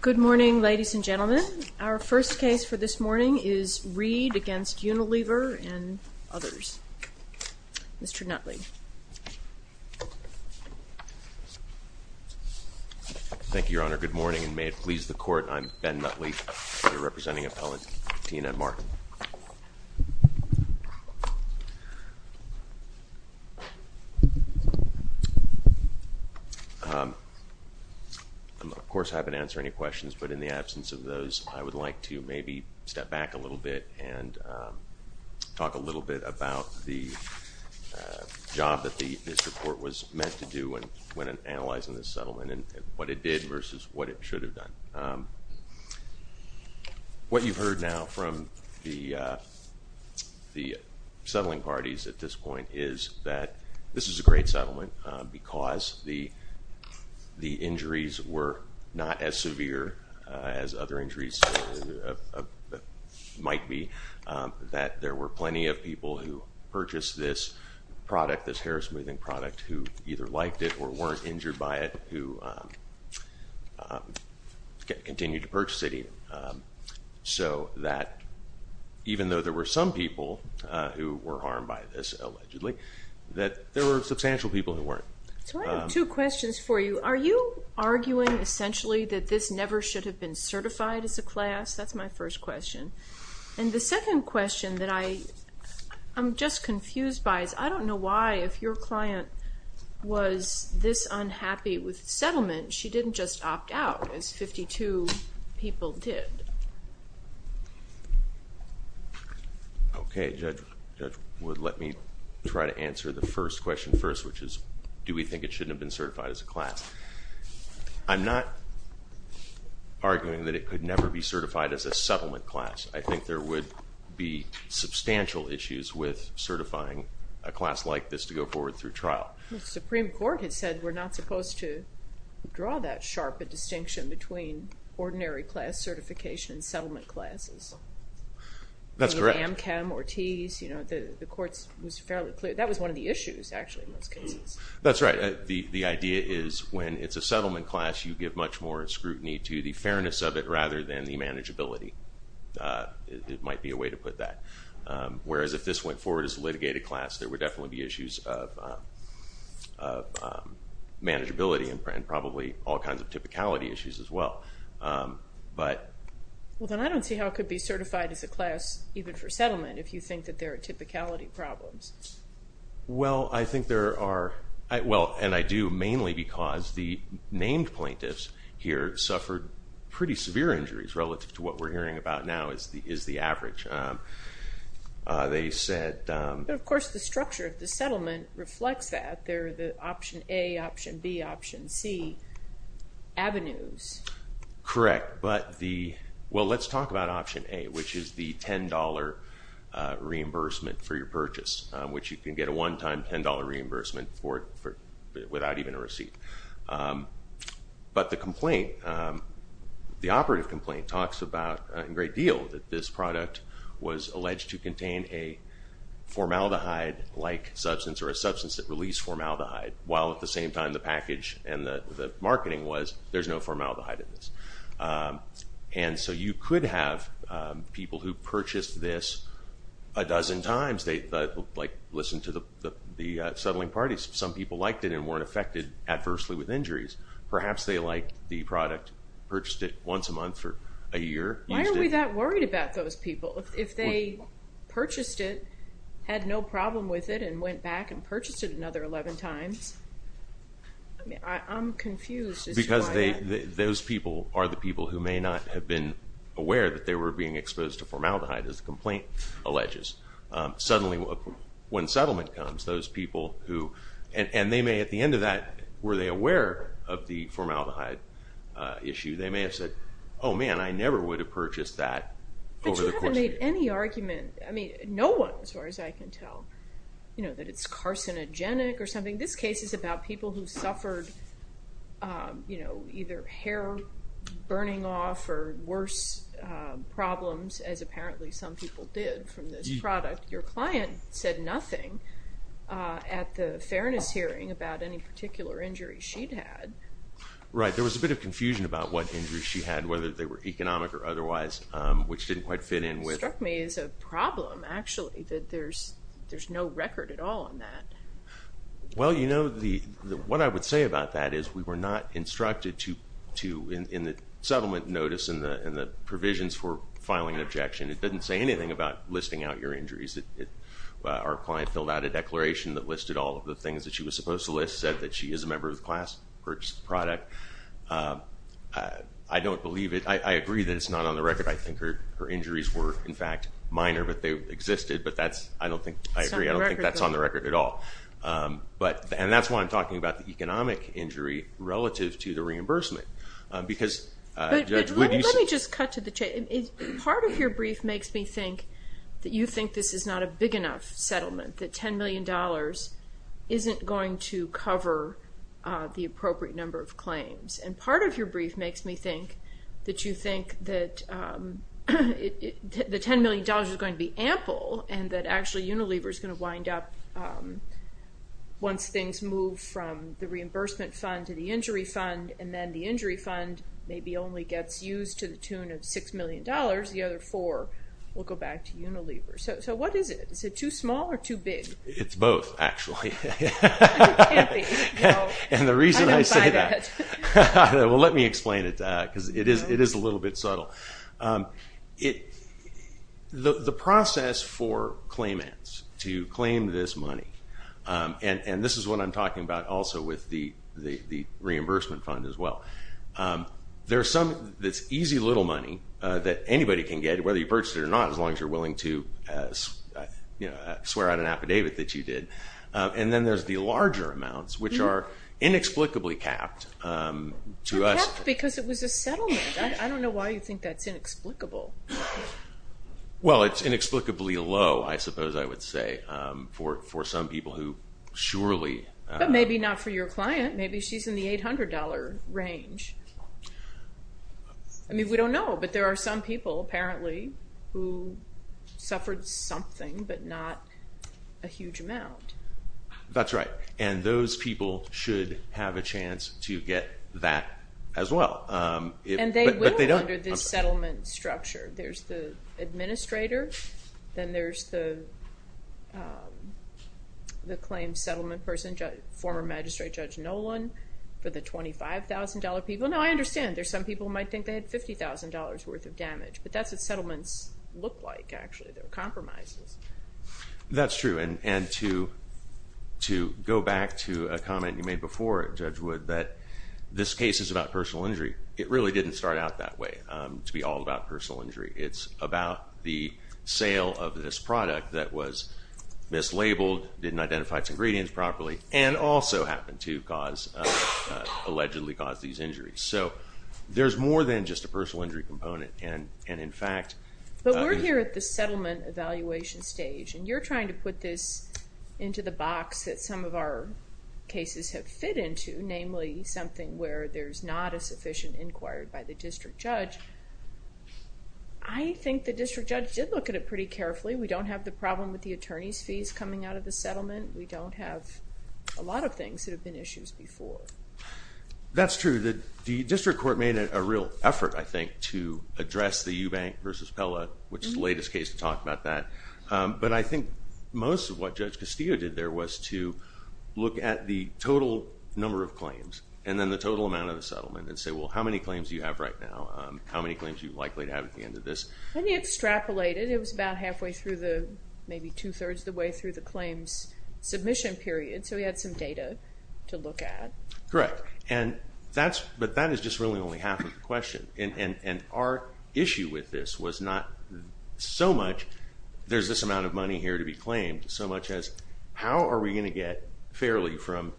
Good morning, ladies and gentlemen. Our first case for this morning is Reid against Unilever and others. Mr. Nutley. Thank you, Your Honor. Good morning, and may it please the Court, I'm Ben Nutley, representing Appellant Tina and Mark. I'm, of course, happy to answer any questions, but in the absence of those, I would like to maybe step back a little bit and talk a little bit about the job that this report was meant to do when analyzing this settlement and what it did versus what it should have done. What you've heard now from the settling parties at this point is that this is a great settlement because the injuries were not as severe as other injuries might be. That there were plenty of people who purchased this product, this hair smoothing product, who either liked it or weren't injured by it, who continued to purchase it even. So that even though there were some people who were harmed by this, allegedly, that there were substantial people who weren't. So I have two questions for you. Are you arguing, essentially, that this never should have been certified as a class? That's my first question. And the second question that I'm just confused by is I don't know why, if your client was this unhappy with settlement, she didn't just opt out as 52 people did. Okay, Judge Wood, let me try to answer the first question first, which is do we think it shouldn't have been certified as a class? I'm not arguing that it could never be certified as a settlement class. I think there would be substantial issues with certifying a class like this to go forward through trial. The Supreme Court has said we're not supposed to draw that sharp a distinction between ordinary class certification and settlement classes. That's correct. Amchem, Ortiz, you know, the courts was fairly clear. That was one of the issues, actually, in those cases. That's right. The idea is when it's a settlement class, you give much more scrutiny to the fairness of it rather than the manageability. It might be a way to put that. Whereas if this went forward as a litigated class, there would definitely be issues of manageability and probably all kinds of typicality issues as well. Well, then I don't see how it could be certified as a class, even for settlement, if you think that there are typicality problems. Well, I think there are. Well, and I do mainly because the named plaintiffs here suffered pretty severe injuries relative to what we're hearing about now is the average. They said... But, of course, the structure of the settlement reflects that. They're the option A, option B, option C avenues. Correct. But the... Well, let's talk about option A, which is the $10 reimbursement for your purchase, which you can get a one-time $10 reimbursement for it without even a receipt. But the complaint, the operative complaint, talks about a great deal that this product was alleged to contain a formaldehyde-like substance or a substance that released formaldehyde, while at the same time the package and the marketing was there's no formaldehyde in this. And so you could have people who purchased this a dozen times, like listen to the settling parties, some people liked it and weren't affected adversely with injuries. Perhaps they liked the product, purchased it once a month for a year, used it... Why are we that worried about those people? If they purchased it, had no problem with it, and went back and purchased it another 11 times, I'm confused as to why that... Those people are the people who may not have been aware that they were being exposed to formaldehyde, as the complaint alleges. Suddenly, when settlement comes, those people who... And they may, at the end of that, were they aware of the formaldehyde issue? They may have said, oh man, I never would have purchased that over the course of a year. I mean, no one, as far as I can tell, that it's carcinogenic or something. This case is about people who suffered either hair burning off or worse problems, as apparently some people did from this product. Your client said nothing at the fairness hearing about any particular injury she'd had. Right. There was a bit of confusion about what injuries she had, whether they were economic or otherwise, which didn't quite fit in with... It struck me as a problem, actually, that there's no record at all on that. Well, you know, what I would say about that is we were not instructed to... In the settlement notice and the provisions for filing an objection, it doesn't say anything about listing out your injuries. Our client filled out a declaration that listed all of the things that she was supposed to list, said that she is a member of the class, purchased the product. I don't believe it. I agree that it's not on the record. I think her injuries were, in fact, minor, but they existed. But that's, I don't think, I agree, I don't think that's on the record at all. And that's why I'm talking about the economic injury relative to the reimbursement. But let me just cut to the chase. Part of your brief makes me think that you think this is not a big enough settlement, that $10 million isn't going to cover the appropriate number of claims. And part of your brief makes me think that you think that the $10 million is going to be ample and that actually Unilever is going to wind up, once things move from the reimbursement fund to the injury fund and then the injury fund maybe only gets used to the tune of $6 million, the other four will go back to Unilever. So what is it? Is it too small or too big? It's both, actually. It can't be. And the reason I say that, well, let me explain it, because it is a little bit subtle. The process for claimants to claim this money, and this is what I'm talking about also with the reimbursement fund as well, there's some easy little money that anybody can get, whether you purchase it or not, as long as you're willing to swear out an affidavit that you did. And then there's the larger amounts, which are inexplicably capped to us. They're capped because it was a settlement. I don't know why you think that's inexplicable. Well, it's inexplicably low, I suppose I would say, for some people who surely... But maybe not for your client. Maybe she's in the $800 range. I mean, we don't know, but there are some people, apparently, who suffered something but not a huge amount. That's right, and those people should have a chance to get that as well. And they will under this settlement structure. There's the administrator, then there's the claimed settlement person, former magistrate Judge Nolan, for the $25,000 people. Now, I understand there's some people who might think they had $50,000 worth of damage, but that's what settlements look like, actually. They're compromises. That's true, and to go back to a comment you made before, Judge Wood, that this case is about personal injury. It really didn't start out that way, to be all about personal injury. It's about the sale of this product that was mislabeled, didn't identify its ingredients properly, and also happened to allegedly cause these injuries. So there's more than just a personal injury component, and in fact... But we're here at the settlement evaluation stage, and you're trying to put this into the box that some of our cases have fit into, namely something where there's not a sufficient inquiry by the district judge. I think the district judge did look at it pretty carefully. We don't have the problem with the attorney's fees coming out of the settlement. We don't have a lot of things that have been issues before. That's true. The district court made a real effort, I think, to address the Eubank versus Pella, which is the latest case to talk about that. But I think most of what Judge Castillo did there was to look at the total number of claims, and then the total amount of the settlement, and say, well, how many claims do you have right now? How many claims are you likely to have at the end of this? And he extrapolated. It was about halfway through the, maybe two-thirds of the way through the claims submission period, so he had some data to look at. Correct. But that is just really only half of the question. And our issue with this was not so much there's this amount of money here to be claimed, so much as how are we going to get fairly from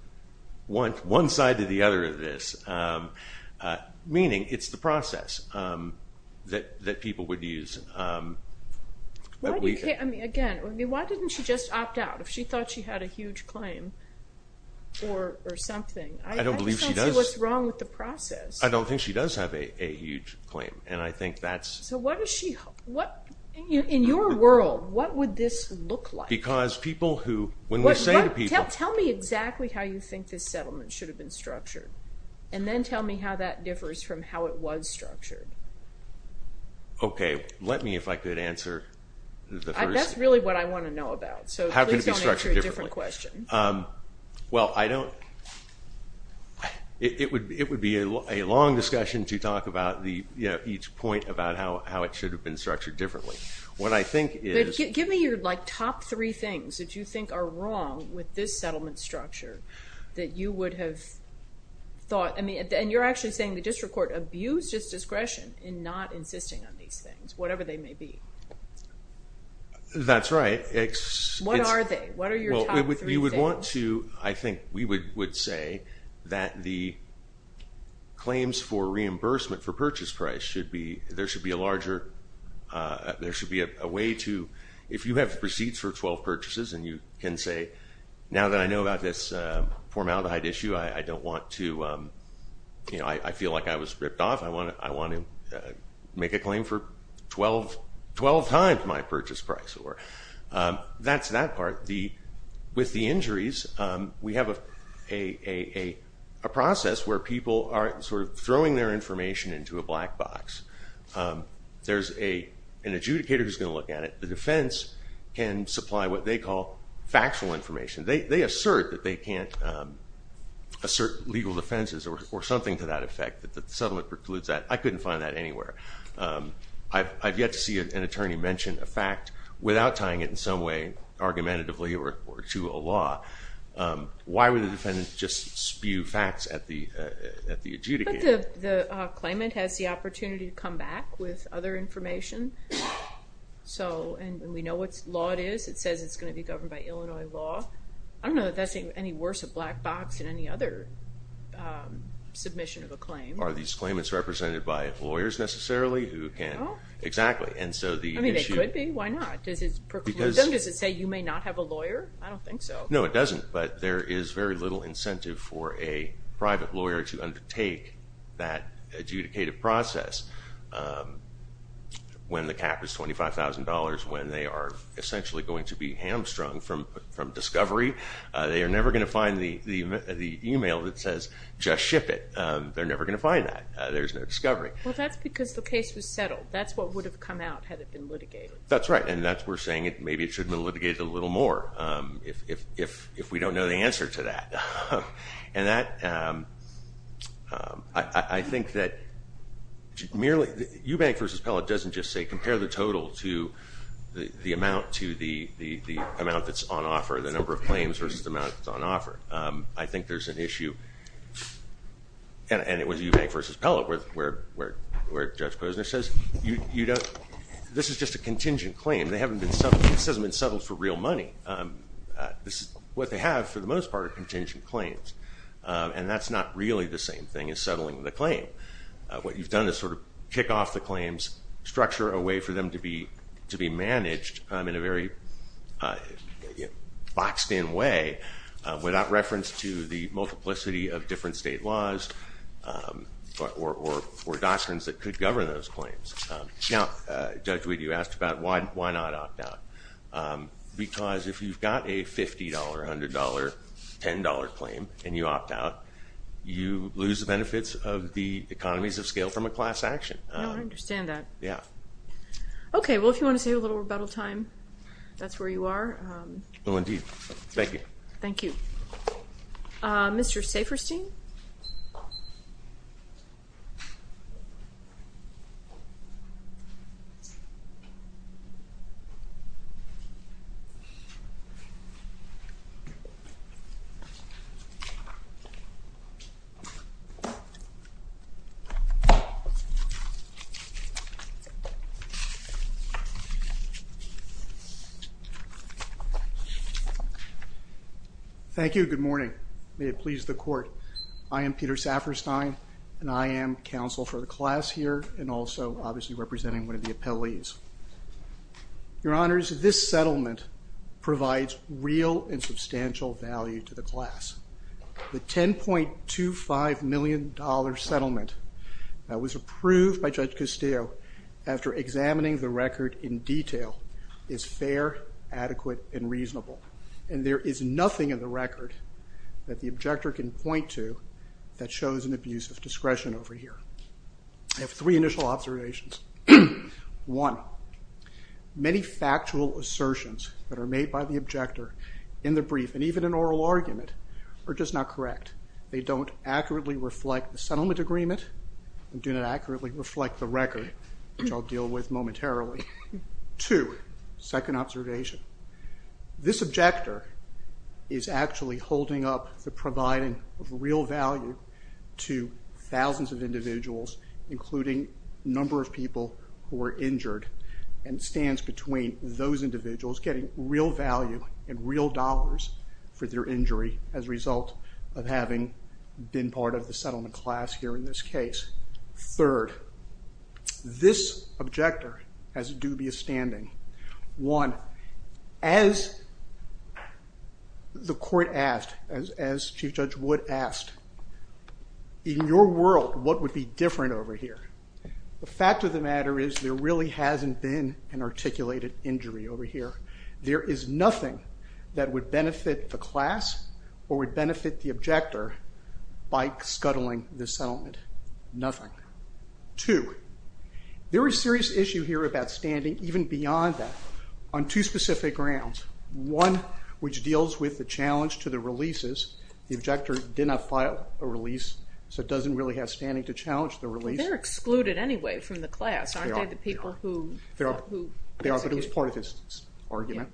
one side to the other of this, meaning it's the process that people would use. Again, why didn't she just opt out if she thought she had a huge claim or something? I just don't see what's wrong with the process. I don't think she does have a huge claim, and I think that's... So what does she, in your world, what would this look like? Because people who, when we say to people... Tell me exactly how you think this settlement should have been structured, and then tell me how that differs from how it was structured. Okay. Let me, if I could, answer the first... That's really what I want to know about, so please don't answer a different question. Well, I don't... It would be a long discussion to talk about each point about how it should have been structured differently. What I think is... Give me your top three things that you think are wrong with this settlement structure that you would have thought... And you're actually saying the district court abused its discretion in not insisting on these things, whatever they may be. That's right. What are they? What are your top three things? Well, you would want to... I think we would say that the claims for reimbursement for purchase price should be... There should be a larger... There should be a way to... If you have receipts for 12 purchases and you can say, now that I know about this formaldehyde issue, I don't want to... I feel like I was ripped off. I want to make a claim for 12 times my purchase price. That's that part. With the injuries, we have a process where people are throwing their information into a black box. There's an adjudicator who's going to look at it. The defense can supply what they call factual information. They assert that they can't assert legal defenses or something to that effect, that the settlement precludes that. I couldn't find that anywhere. I've yet to see an attorney mention a fact without tying it in some way argumentatively or to a law. Why would a defendant just spew facts at the adjudicator? But the claimant has the opportunity to come back with other information, and we know what law it is. It says it's going to be governed by Illinois law. I don't know that that's any worse a black box than any other submission of a claim. Are these claimants represented by lawyers necessarily who can? No. Exactly. I mean, they could be. Why not? Does it preclude them? Does it say you may not have a lawyer? I don't think so. No, it doesn't. But there is very little incentive for a private lawyer to undertake that adjudicative process when the cap is $25,000, when they are essentially going to be hamstrung from discovery. They are never going to find the email that says just ship it. They're never going to find that. There's no discovery. Well, that's because the case was settled. That's what would have come out had it been litigated. That's right, and that's why we're saying maybe it should have been litigated a little more if we don't know the answer to that. And that, I think that merely, Eubank v. Pellitt doesn't just say compare the total to the amount to the amount that's on offer, the number of claims versus the amount that's on offer. I think there's an issue, and it was Eubank v. Pellitt where Judge Posner says this is just a contingent claim. This hasn't been settled for real money. This is what they have for the most part are contingent claims, and that's not really the same thing as settling the claim. What you've done is sort of kick off the claims, structure a way for them to be managed in a very boxed-in way without reference to the multiplicity of different state laws or doctrines that could govern those claims. Now, Judge, you asked about why not opt out, because if you've got a $50, $100, $10 claim and you opt out, you lose the benefits of the economies of scale from a class action. I understand that. Yeah. Okay. Well, if you want to save a little rebuttal time, that's where you are. Well, indeed. Thank you. Thank you. Mr. Saferstein. Thank you. Good morning, colleagues of the court. I am Peter Saferstein, and I am counsel for the class here and also obviously representing one of the appellees. Your Honors, this settlement provides real and substantial value to the class. The $10.25 million settlement that was approved by Judge Castillo after examining the record in detail is fair, adequate, and reasonable. And there is nothing in the record that the objector can point to that shows an abuse of discretion over here. I have three initial observations. One, many factual assertions that are made by the objector in the brief and even in oral argument are just not correct. They don't accurately reflect the settlement agreement and do not accurately reflect the record, which I'll deal with momentarily. Two, second observation. This objector is actually holding up the providing of real value to thousands of individuals, including a number of people who were injured, and stands between those individuals getting real value and real dollars for their injury as a result of having been part of the settlement class here in this case. Third, this objector has a dubious standing. One, as the court asked, as Chief Judge Wood asked, in your world, what would be different over here? The fact of the matter is there really hasn't been an articulated injury over here. There is nothing that would benefit the class or would benefit the objector by scuttling this settlement. Nothing. Two, there is a serious issue here about standing even beyond that on two specific grounds. One, which deals with the challenge to the releases. The objector did not file a release, so it doesn't really have standing to challenge the release. They're excluded anyway from the class, aren't they, the people who? They are, but it was part of his argument.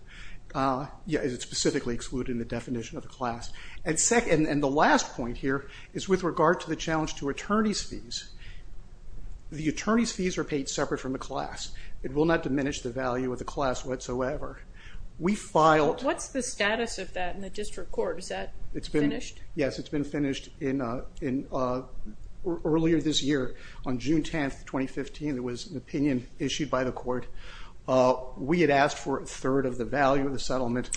Yeah, it's specifically excluded in the definition of the class. The last point here is with regard to the challenge to attorney's fees. The attorney's fees are paid separate from the class. It will not diminish the value of the class whatsoever. What's the status of that in the district court? Is that finished? Yes, it's been finished. Earlier this year, on June 10, 2015, there was an opinion issued by the court. We had asked for a third of the value of the settlement.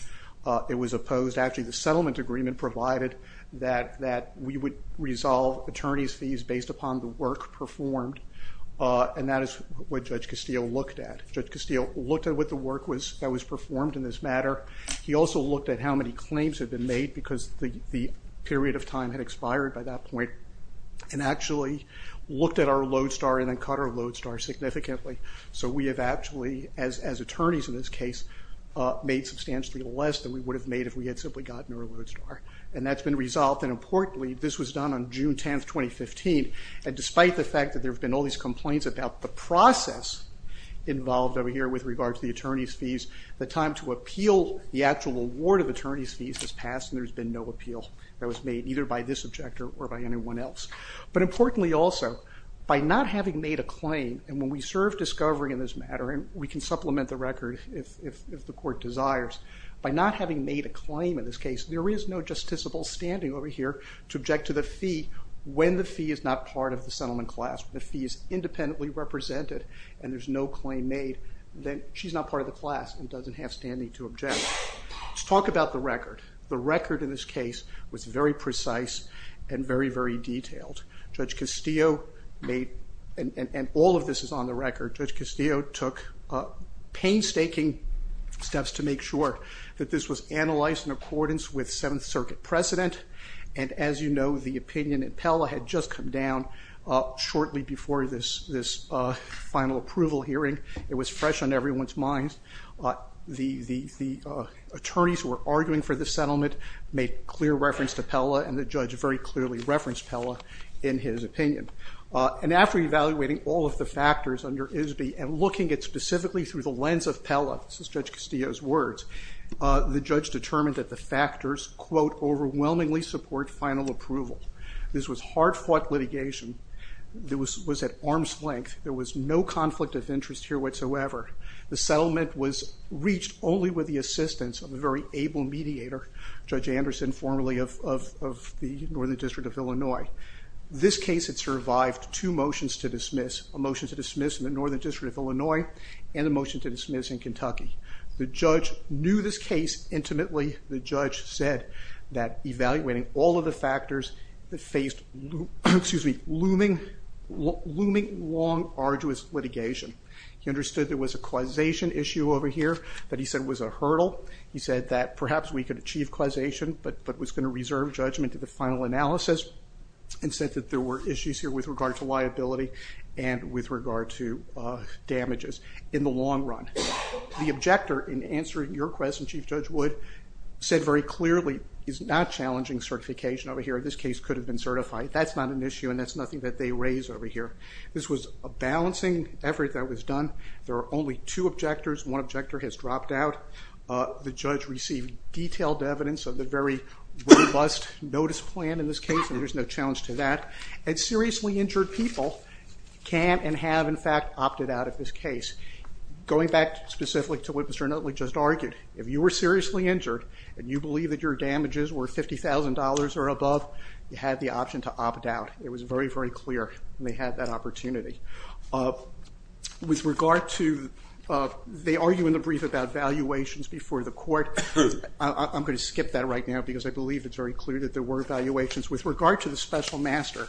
It was opposed. Actually, the settlement agreement provided that we would resolve attorney's fees based upon the work performed, and that is what Judge Castillo looked at. Judge Castillo looked at what the work that was performed in this matter. He also looked at how many claims had been made because the period of time had expired by that point and actually looked at our load star and then cut our load star significantly. So we have actually, as attorneys in this case, made substantially less than we would have made if we had simply gotten our load star, and that's been resolved. Importantly, this was done on June 10, 2015, and despite the fact that there have been all these complaints about the process involved over here with regard to the attorney's fees, the time to appeal the actual award of attorney's fees has passed, and there's been no appeal that was made either by this objector or by anyone else. But importantly also, by not having made a claim, and when we serve discovery in this matter, and we can supplement the record if the court desires, by not having made a claim in this case, there is no justiciable standing over here to object to the fee when the fee is not part of the settlement class. When the fee is independently represented and there's no claim made, then she's not part of the class and doesn't have standing to object. Let's talk about the record. The record in this case was very precise and very, very detailed. Judge Castillo made, and all of this is on the record, Judge Castillo took painstaking steps to make sure that this was analyzed in accordance with Seventh Circuit precedent, and as you know, the opinion at Pella had just come down shortly before this final approval hearing. It was fresh on everyone's minds. The attorneys who were arguing for the settlement made clear reference to Pella and the judge very clearly referenced Pella in his opinion. And after evaluating all of the factors under ISB and looking at specifically through the lens of Pella, this is Judge Castillo's words, the judge determined that the factors, quote, overwhelmingly support final approval. This was hard-fought litigation. It was at arm's length. There was no conflict of interest here whatsoever. The settlement was reached only with the assistance of a very able mediator, Judge Anderson, formerly of the Northern District of Illinois. This case had survived two motions to dismiss, a motion to dismiss in the Northern District of Illinois and a motion to dismiss in Kentucky. The judge knew this case intimately. The judge said that evaluating all of the factors, it faced looming, long, arduous litigation. He understood there was a causation issue over here that he said was a hurdle. He said that perhaps we could achieve causation, but was going to reserve judgment to the final analysis and said that there were issues here with regard to liability and with regard to damages in the long run. The objector in answering your question, Chief Judge Wood, said very clearly it's not challenging certification over here. This case could have been certified. That's not an issue and that's nothing that they raise over here. This was a balancing effort that was done. There are only two objectors. One objector has dropped out. The judge received detailed evidence of the very robust notice plan in this case, and there's no challenge to that. And seriously injured people can and have, in fact, opted out of this case. Going back specifically to what Mr. Nutley just argued, if you were seriously injured and you believe that your damages were $50,000 or above, you had the option to opt out. It was very, very clear, and they had that opportunity. With regard to they argue in the brief about valuations before the court. I'm going to skip that right now because I believe it's very clear that there were valuations. With regard to the special master,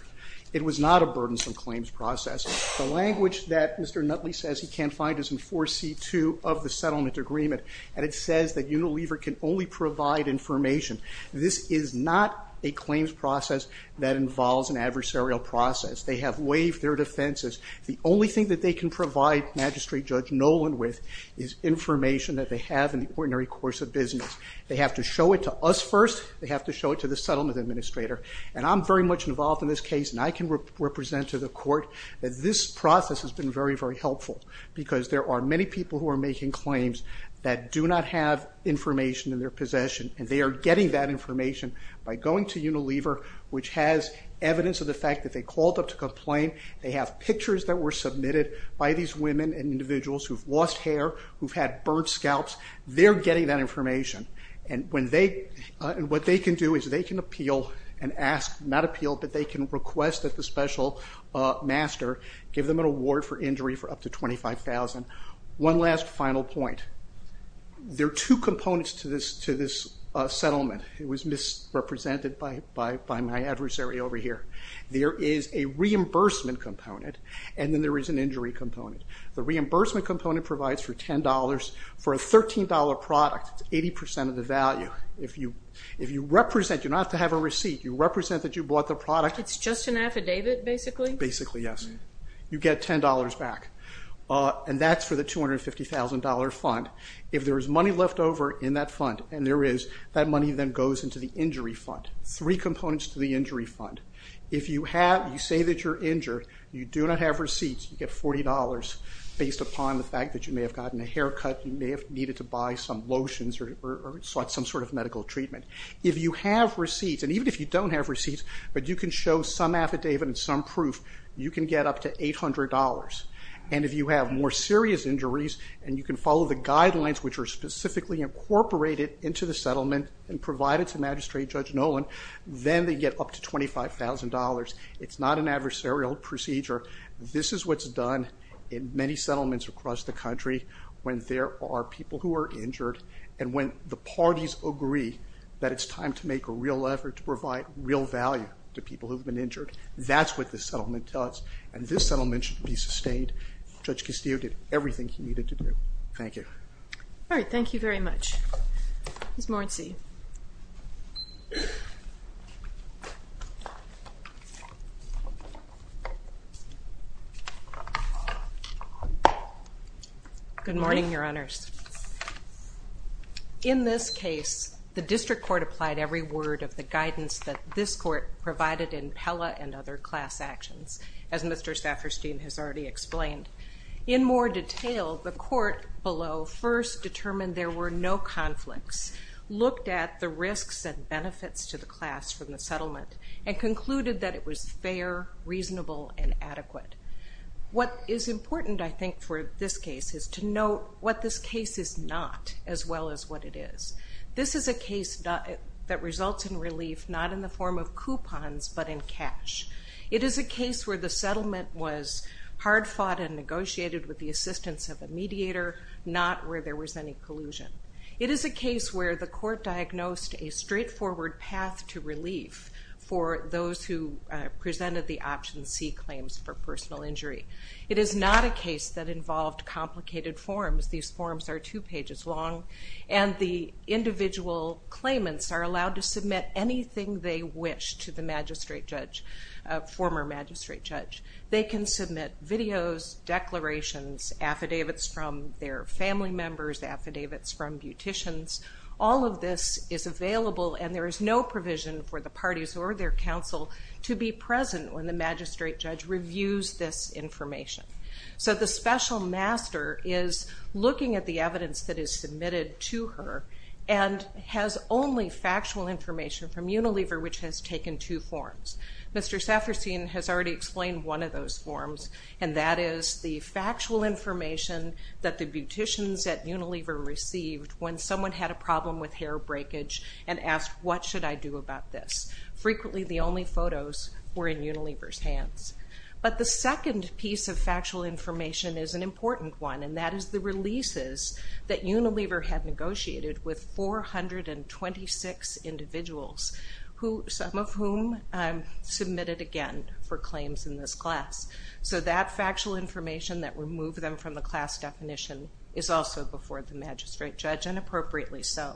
it was not a burdensome claims process. The language that Mr. Nutley says he can't find is in 4C2 of the settlement agreement, and it says that Unilever can only provide information. This is not a claims process that involves an adversarial process. They have waived their defenses. The only thing that they can provide Magistrate Judge Nolan with is information that they have in the ordinary course of business. They have to show it to us first. They have to show it to the settlement administrator. And I'm very much involved in this case, and I can represent to the court that this process has been very, very helpful because there are many people who are making claims that do not have information in their possession, and they are getting that information by going to Unilever, which has evidence of the fact that they called up to complain. They have pictures that were submitted by these women and individuals who've lost hair, who've had burnt scalps. They're getting that information. And what they can do is they can appeal and ask, not appeal, but they can request that the special master give them an award for injury for up to $25,000. One last final point. There are two components to this settlement. It was misrepresented by my adversary over here. There is a reimbursement component, and then there is an injury component. The reimbursement component provides for $10. For a $13 product, it's 80% of the value. If you represent, you don't have to have a receipt. You represent that you bought the product. It's just an affidavit, basically? Basically, yes. You get $10 back. And that's for the $250,000 fund. If there is money left over in that fund, and there is, that money then goes into the injury fund. Three components to the injury fund. If you say that you're injured, you do not have receipts, you get $40 based upon the fact that you may have gotten a haircut, you may have needed to buy some lotions or some sort of medical treatment. If you have receipts, and even if you don't have receipts, but you can show some affidavit and some proof, you can get up to $800. And if you have more serious injuries, and you can follow the guidelines, which are specifically incorporated into the settlement and provided to Magistrate Judge Nolan, then they get up to $25,000. It's not an adversarial procedure. This is what's done in many settlements across the country when there are people who are injured, and when the parties agree that it's time to make a real effort to provide real value to people who have been injured. That's what this settlement does. And this settlement should be sustained. Judge Castillo did everything he needed to do. Thank you. All right, thank you very much. Ms. Morensi. Good morning, Your Honors. In this case, the district court applied every word of the guidance that this court provided in Pella and other class actions, as Mr. Stafferstein has already explained. In more detail, the court below first determined there were no conflicts, looked at the risks and benefits to the class from the settlement, and concluded that it was fair, reasonable, and adequate. What is important, I think, for this case is to note what this case is not as well as what it is. This is a case that results in relief not in the form of coupons but in cash. It is a case where the settlement was hard fought and negotiated with the assistance of a mediator, not where there was any collusion. It is a case where the court diagnosed a straightforward path to relief for those who presented the option C claims for personal injury. It is not a case that involved complicated forms. These forms are two pages long. The individual claimants are allowed to submit anything they wish to the former magistrate judge. They can submit videos, declarations, affidavits from their family members, affidavits from beauticians. All of this is available, and there is no provision for the parties or their counsel to be present when the magistrate judge reviews this information. So the special master is looking at the evidence that is submitted to her and has only factual information from Unilever, which has taken two forms. Mr. Safferstein has already explained one of those forms, and that is the factual information that the beauticians at Unilever received when someone had a problem with hair breakage and asked, What should I do about this? Frequently the only photos were in Unilever's hands. But the second piece of factual information is an important one, and that is the releases that Unilever had negotiated with 426 individuals, some of whom submitted again for claims in this class. So that factual information that removed them from the class definition is also before the magistrate judge, and appropriately so.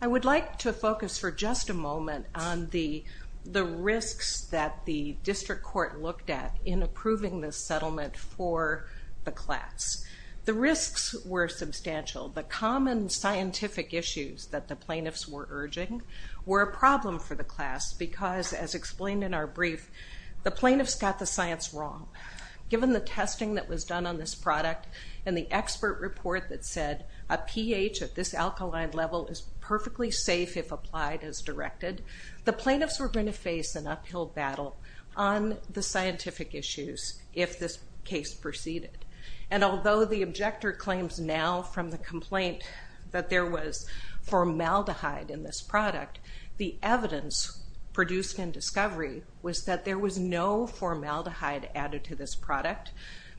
I would like to focus for just a moment on the risks that the district court looked at in approving this settlement for the class. The risks were substantial. The common scientific issues that the plaintiffs were urging were a problem for the class because, as explained in our brief, the plaintiffs got the science wrong. Given the testing that was done on this product and the expert report that said a pH at this alkaline level is perfectly safe if applied as directed, the plaintiffs were going to face an uphill battle on the scientific issues if this case proceeded. And although the objector claims now from the complaint that there was formaldehyde in this product, the evidence produced in discovery was that there was no formaldehyde added to this product,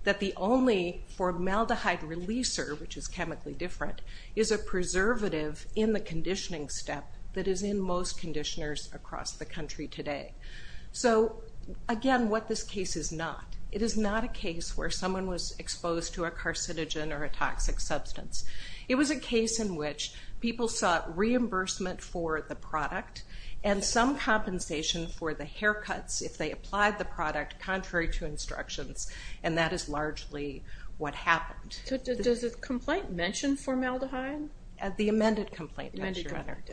that the only formaldehyde releaser, which is chemically different, is a preservative in the conditioning step that is in most conditioners across the country today. So, again, what this case is not. It is not a case where someone was exposed to a carcinogen or a toxic substance. It was a case in which people sought reimbursement for the product and some compensation for the haircuts if they applied the product contrary to instructions, and that is largely what happened. Does the complaint mention formaldehyde? The amended complaint does, Your Honor.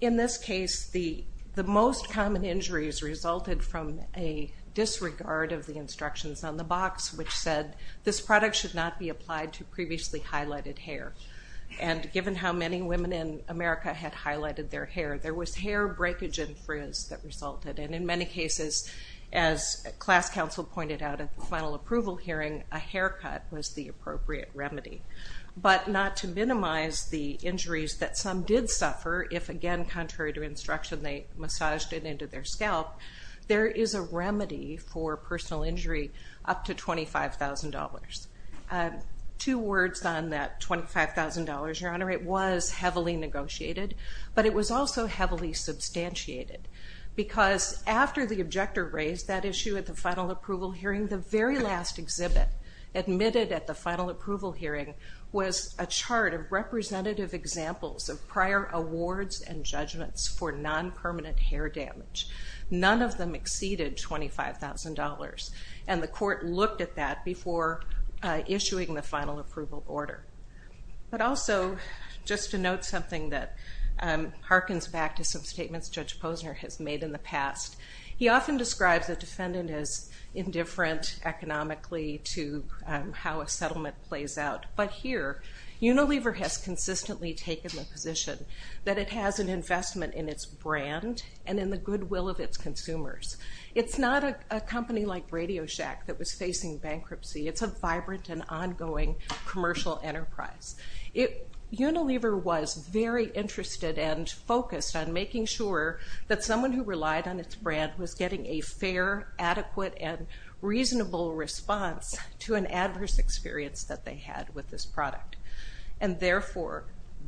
In this case, the most common injuries resulted from a disregard of the instructions on the box, which said this product should not be applied to previously highlighted hair. And given how many women in America had highlighted their hair, there was hair breakage and frizz that resulted. And in many cases, as class counsel pointed out at the final approval hearing, a haircut was the appropriate remedy. But not to minimize the injuries that some did suffer, if, again, contrary to instruction, they massaged it into their scalp, there is a remedy for personal injury up to $25,000. Two words on that $25,000, Your Honor. It was heavily negotiated, but it was also heavily substantiated because after the objector raised that issue at the final approval hearing, the very last exhibit admitted at the final approval hearing was a chart of representative examples of prior awards and judgments for non-permanent hair damage. None of them exceeded $25,000, and the court looked at that before issuing the final approval order. But also, just to note something that harkens back to some statements Judge Posner has made in the past, he often describes a defendant as indifferent economically to how a settlement plays out. But here, Unilever has consistently taken the position that it has an investment in its brand and in the goodwill of its consumers. It's not a company like Radio Shack that was facing bankruptcy. It's a vibrant and ongoing commercial enterprise. Unilever was very interested and focused on making sure that someone who relied on its brand was getting a fair, adequate, and reasonable response to an adverse experience that they had with this product. And therefore,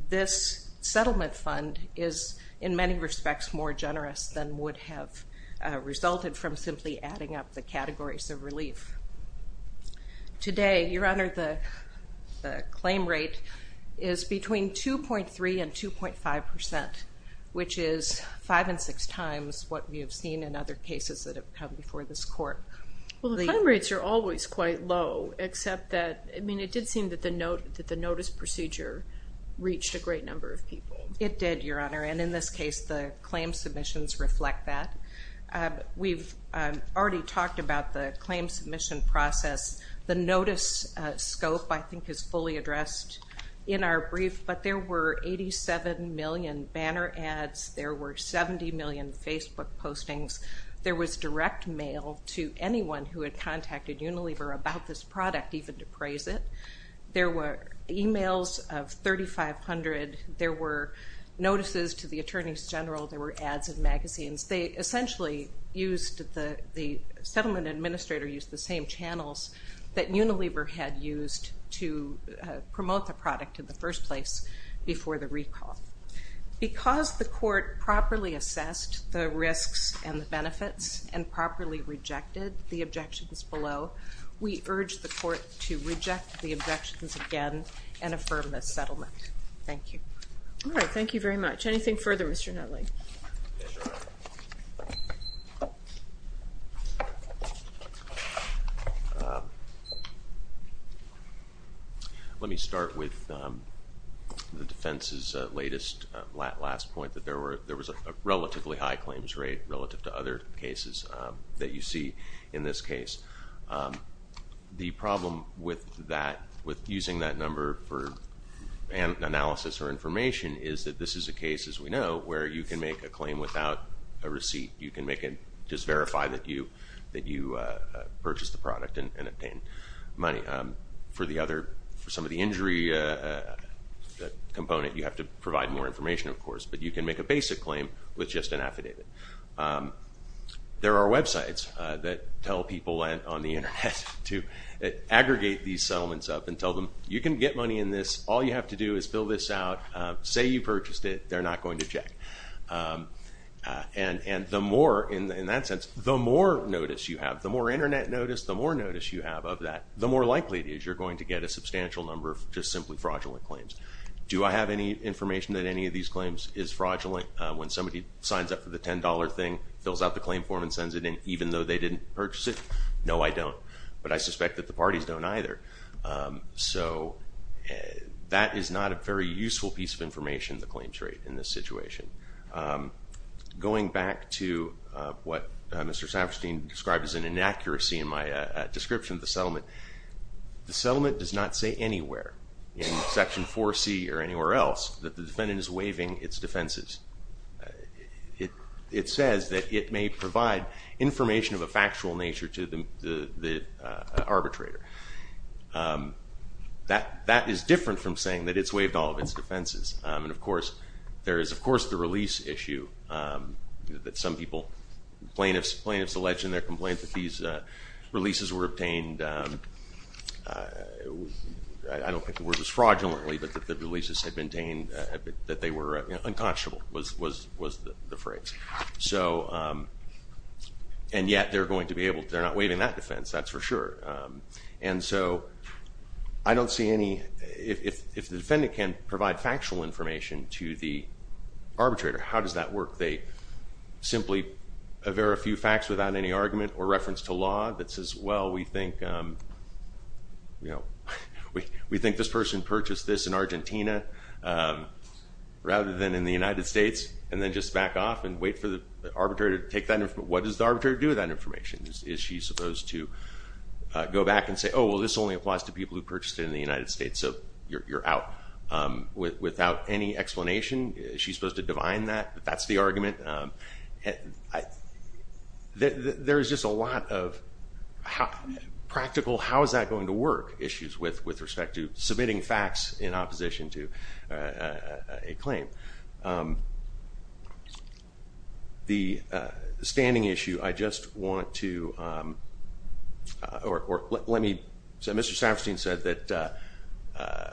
this settlement fund is, in many respects, more generous than would have resulted from simply adding up the categories of relief. Today, Your Honor, the claim rate is between 2.3% and 2.5%, which is five and six times what we have seen in other cases that have come before this court. Well, the claim rates are always quite low, except that, I mean, it did seem that the notice procedure reached a great number of people. It did, Your Honor, and in this case, the claim submissions reflect that. We've already talked about the claim submission process. The notice scope, I think, is fully addressed in our brief, but there were 87 million banner ads. There were 70 million Facebook postings. There was direct mail to anyone who had contacted Unilever about this product, even to praise it. There were emails of 3,500. There were notices to the attorneys general. There were ads in magazines. They essentially used the settlement administrator used the same channels that Unilever had used to promote the product in the first place before the recall. Because the court properly assessed the risks and the benefits and properly rejected the objections below, we urge the court to reject the objections again and affirm this settlement. Thank you. All right, thank you very much. Anything further, Mr. Nutley? Yes, Your Honor. Let me start with the defense's latest last point, that there was a relatively high claims rate relative to other cases that you see in this case. The problem with using that number for analysis or information is that this is a case, as we know, where you can make a claim without a receipt. You can just verify that you purchased the product and obtained money. For some of the injury component, you have to provide more information, of course, but you can make a basic claim with just an affidavit. There are websites that tell people on the Internet to aggregate these settlements up and tell them, you can get money in this. All you have to do is fill this out. Say you purchased it. They're not going to check. And the more, in that sense, the more notice you have, the more Internet notice, the more notice you have of that, the more likely it is you're going to get a substantial number of just simply fraudulent claims. Do I have any information that any of these claims is fraudulent? When somebody signs up for the $10 thing, fills out the claim form, and sends it in, even though they didn't purchase it? No, I don't. But I suspect that the parties don't either. So that is not a very useful piece of information, the claims rate in this situation. Going back to what Mr. Safferstein described as an inaccuracy in my description of the settlement, the settlement does not say anywhere in Section 4C or anywhere else that the defendant is waiving its defenses. It says that it may provide information of a factual nature to the arbitrator. That is different from saying that it's waived all of its defenses. And, of course, there is, of course, the release issue that some people, plaintiffs alleged in their complaint that these releases were obtained, I don't think the word was fraudulently, but that the releases had been obtained, that they were unconscionable was the phrase. And yet they're going to be able to, they're not waiving that defense, that's for sure. And so I don't see any, if the defendant can provide factual information to the arbitrator, how does that work? They simply aver a few facts without any argument or reference to law that says, well, we think this person purchased this in Argentina rather than in the United States, and then just back off and wait for the arbitrator to take that information. What does the arbitrator do with that information? Is she supposed to go back and say, oh, well, this only applies to people who purchased it in the United States, so you're out without any explanation? That's the argument. There's just a lot of practical, how is that going to work, issues with respect to submitting facts in opposition to a claim. The standing issue, I just want to, or let me, so Mr. Staffordstein said that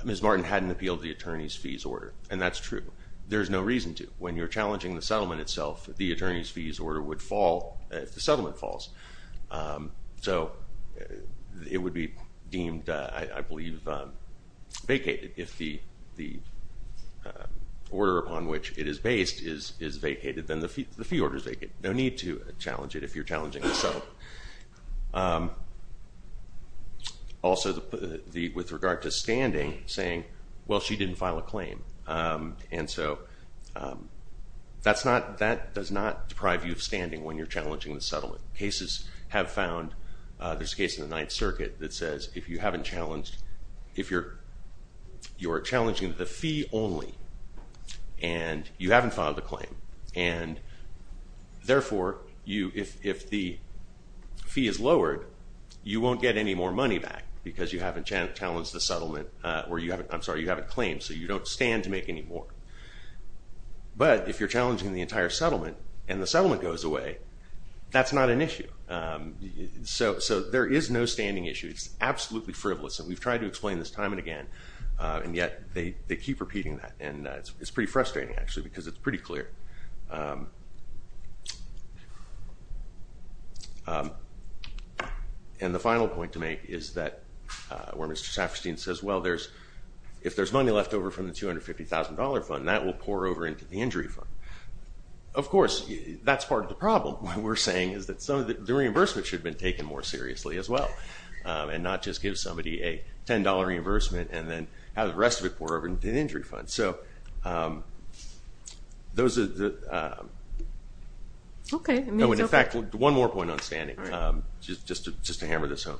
Ms. Martin hadn't appealed the attorney's fees order, and that's true. There's no reason to. When you're challenging the settlement itself, the attorney's fees order would fall if the settlement falls. So it would be deemed, I believe, vacated. If the order upon which it is based is vacated, then the fee order is vacated. No need to challenge it if you're challenging the settlement. Also, with regard to standing, saying, well, she didn't file a claim, and so that does not deprive you of standing when you're challenging the settlement. Cases have found, there's a case in the Ninth Circuit that says if you haven't challenged, if you're challenging the fee only, and you haven't filed a claim, and therefore, if the fee is lowered, you won't get any more money back, because you haven't challenged the settlement, or you haven't, I'm sorry, you haven't claimed, so you don't stand to make any more. But if you're challenging the entire settlement, and the settlement goes away, that's not an issue. So there is no standing issue. It's absolutely frivolous, and we've tried to explain this time and again, and yet they keep repeating that, and it's pretty frustrating, actually, because it's pretty clear. And the final point to make is that, where Mr. Safferstein says, well, there's, if there's money left over from the $250,000 fund, that will pour over into the injury fund. Of course, that's part of the problem. What we're saying is that some of the reimbursement should have been taken more seriously as well, and not just give somebody a $10 reimbursement, and then have the rest of it pour over into the injury fund. So those are the... Okay. In fact, one more point on standing, just to hammer this home.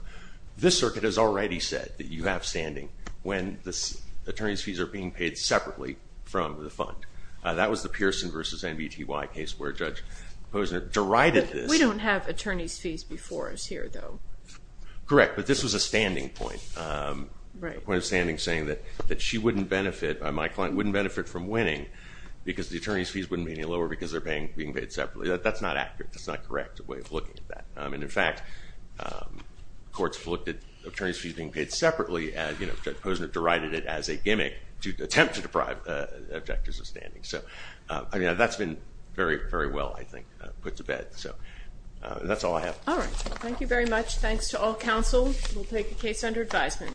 This circuit has already said that you have standing when the attorney's fees are being paid separately from the fund. That was the Pearson v. MBTY case where Judge Posner derided this. We don't have attorney's fees before us here, though. Correct, but this was a standing point. Right. The point of standing saying that she wouldn't benefit, my client wouldn't benefit from winning, because the attorney's fees wouldn't be any lower because they're being paid separately. That's not accurate. That's not correct, the way of looking at that. And, in fact, courts have looked at attorney's fees being paid separately, and Judge Posner derided it as a gimmick to attempt to deprive objectors of standing. So that's been very, very well, I think, put to bed. So that's all I have. All right. Thank you very much. Thanks to all counsel. We'll take the case under advisement.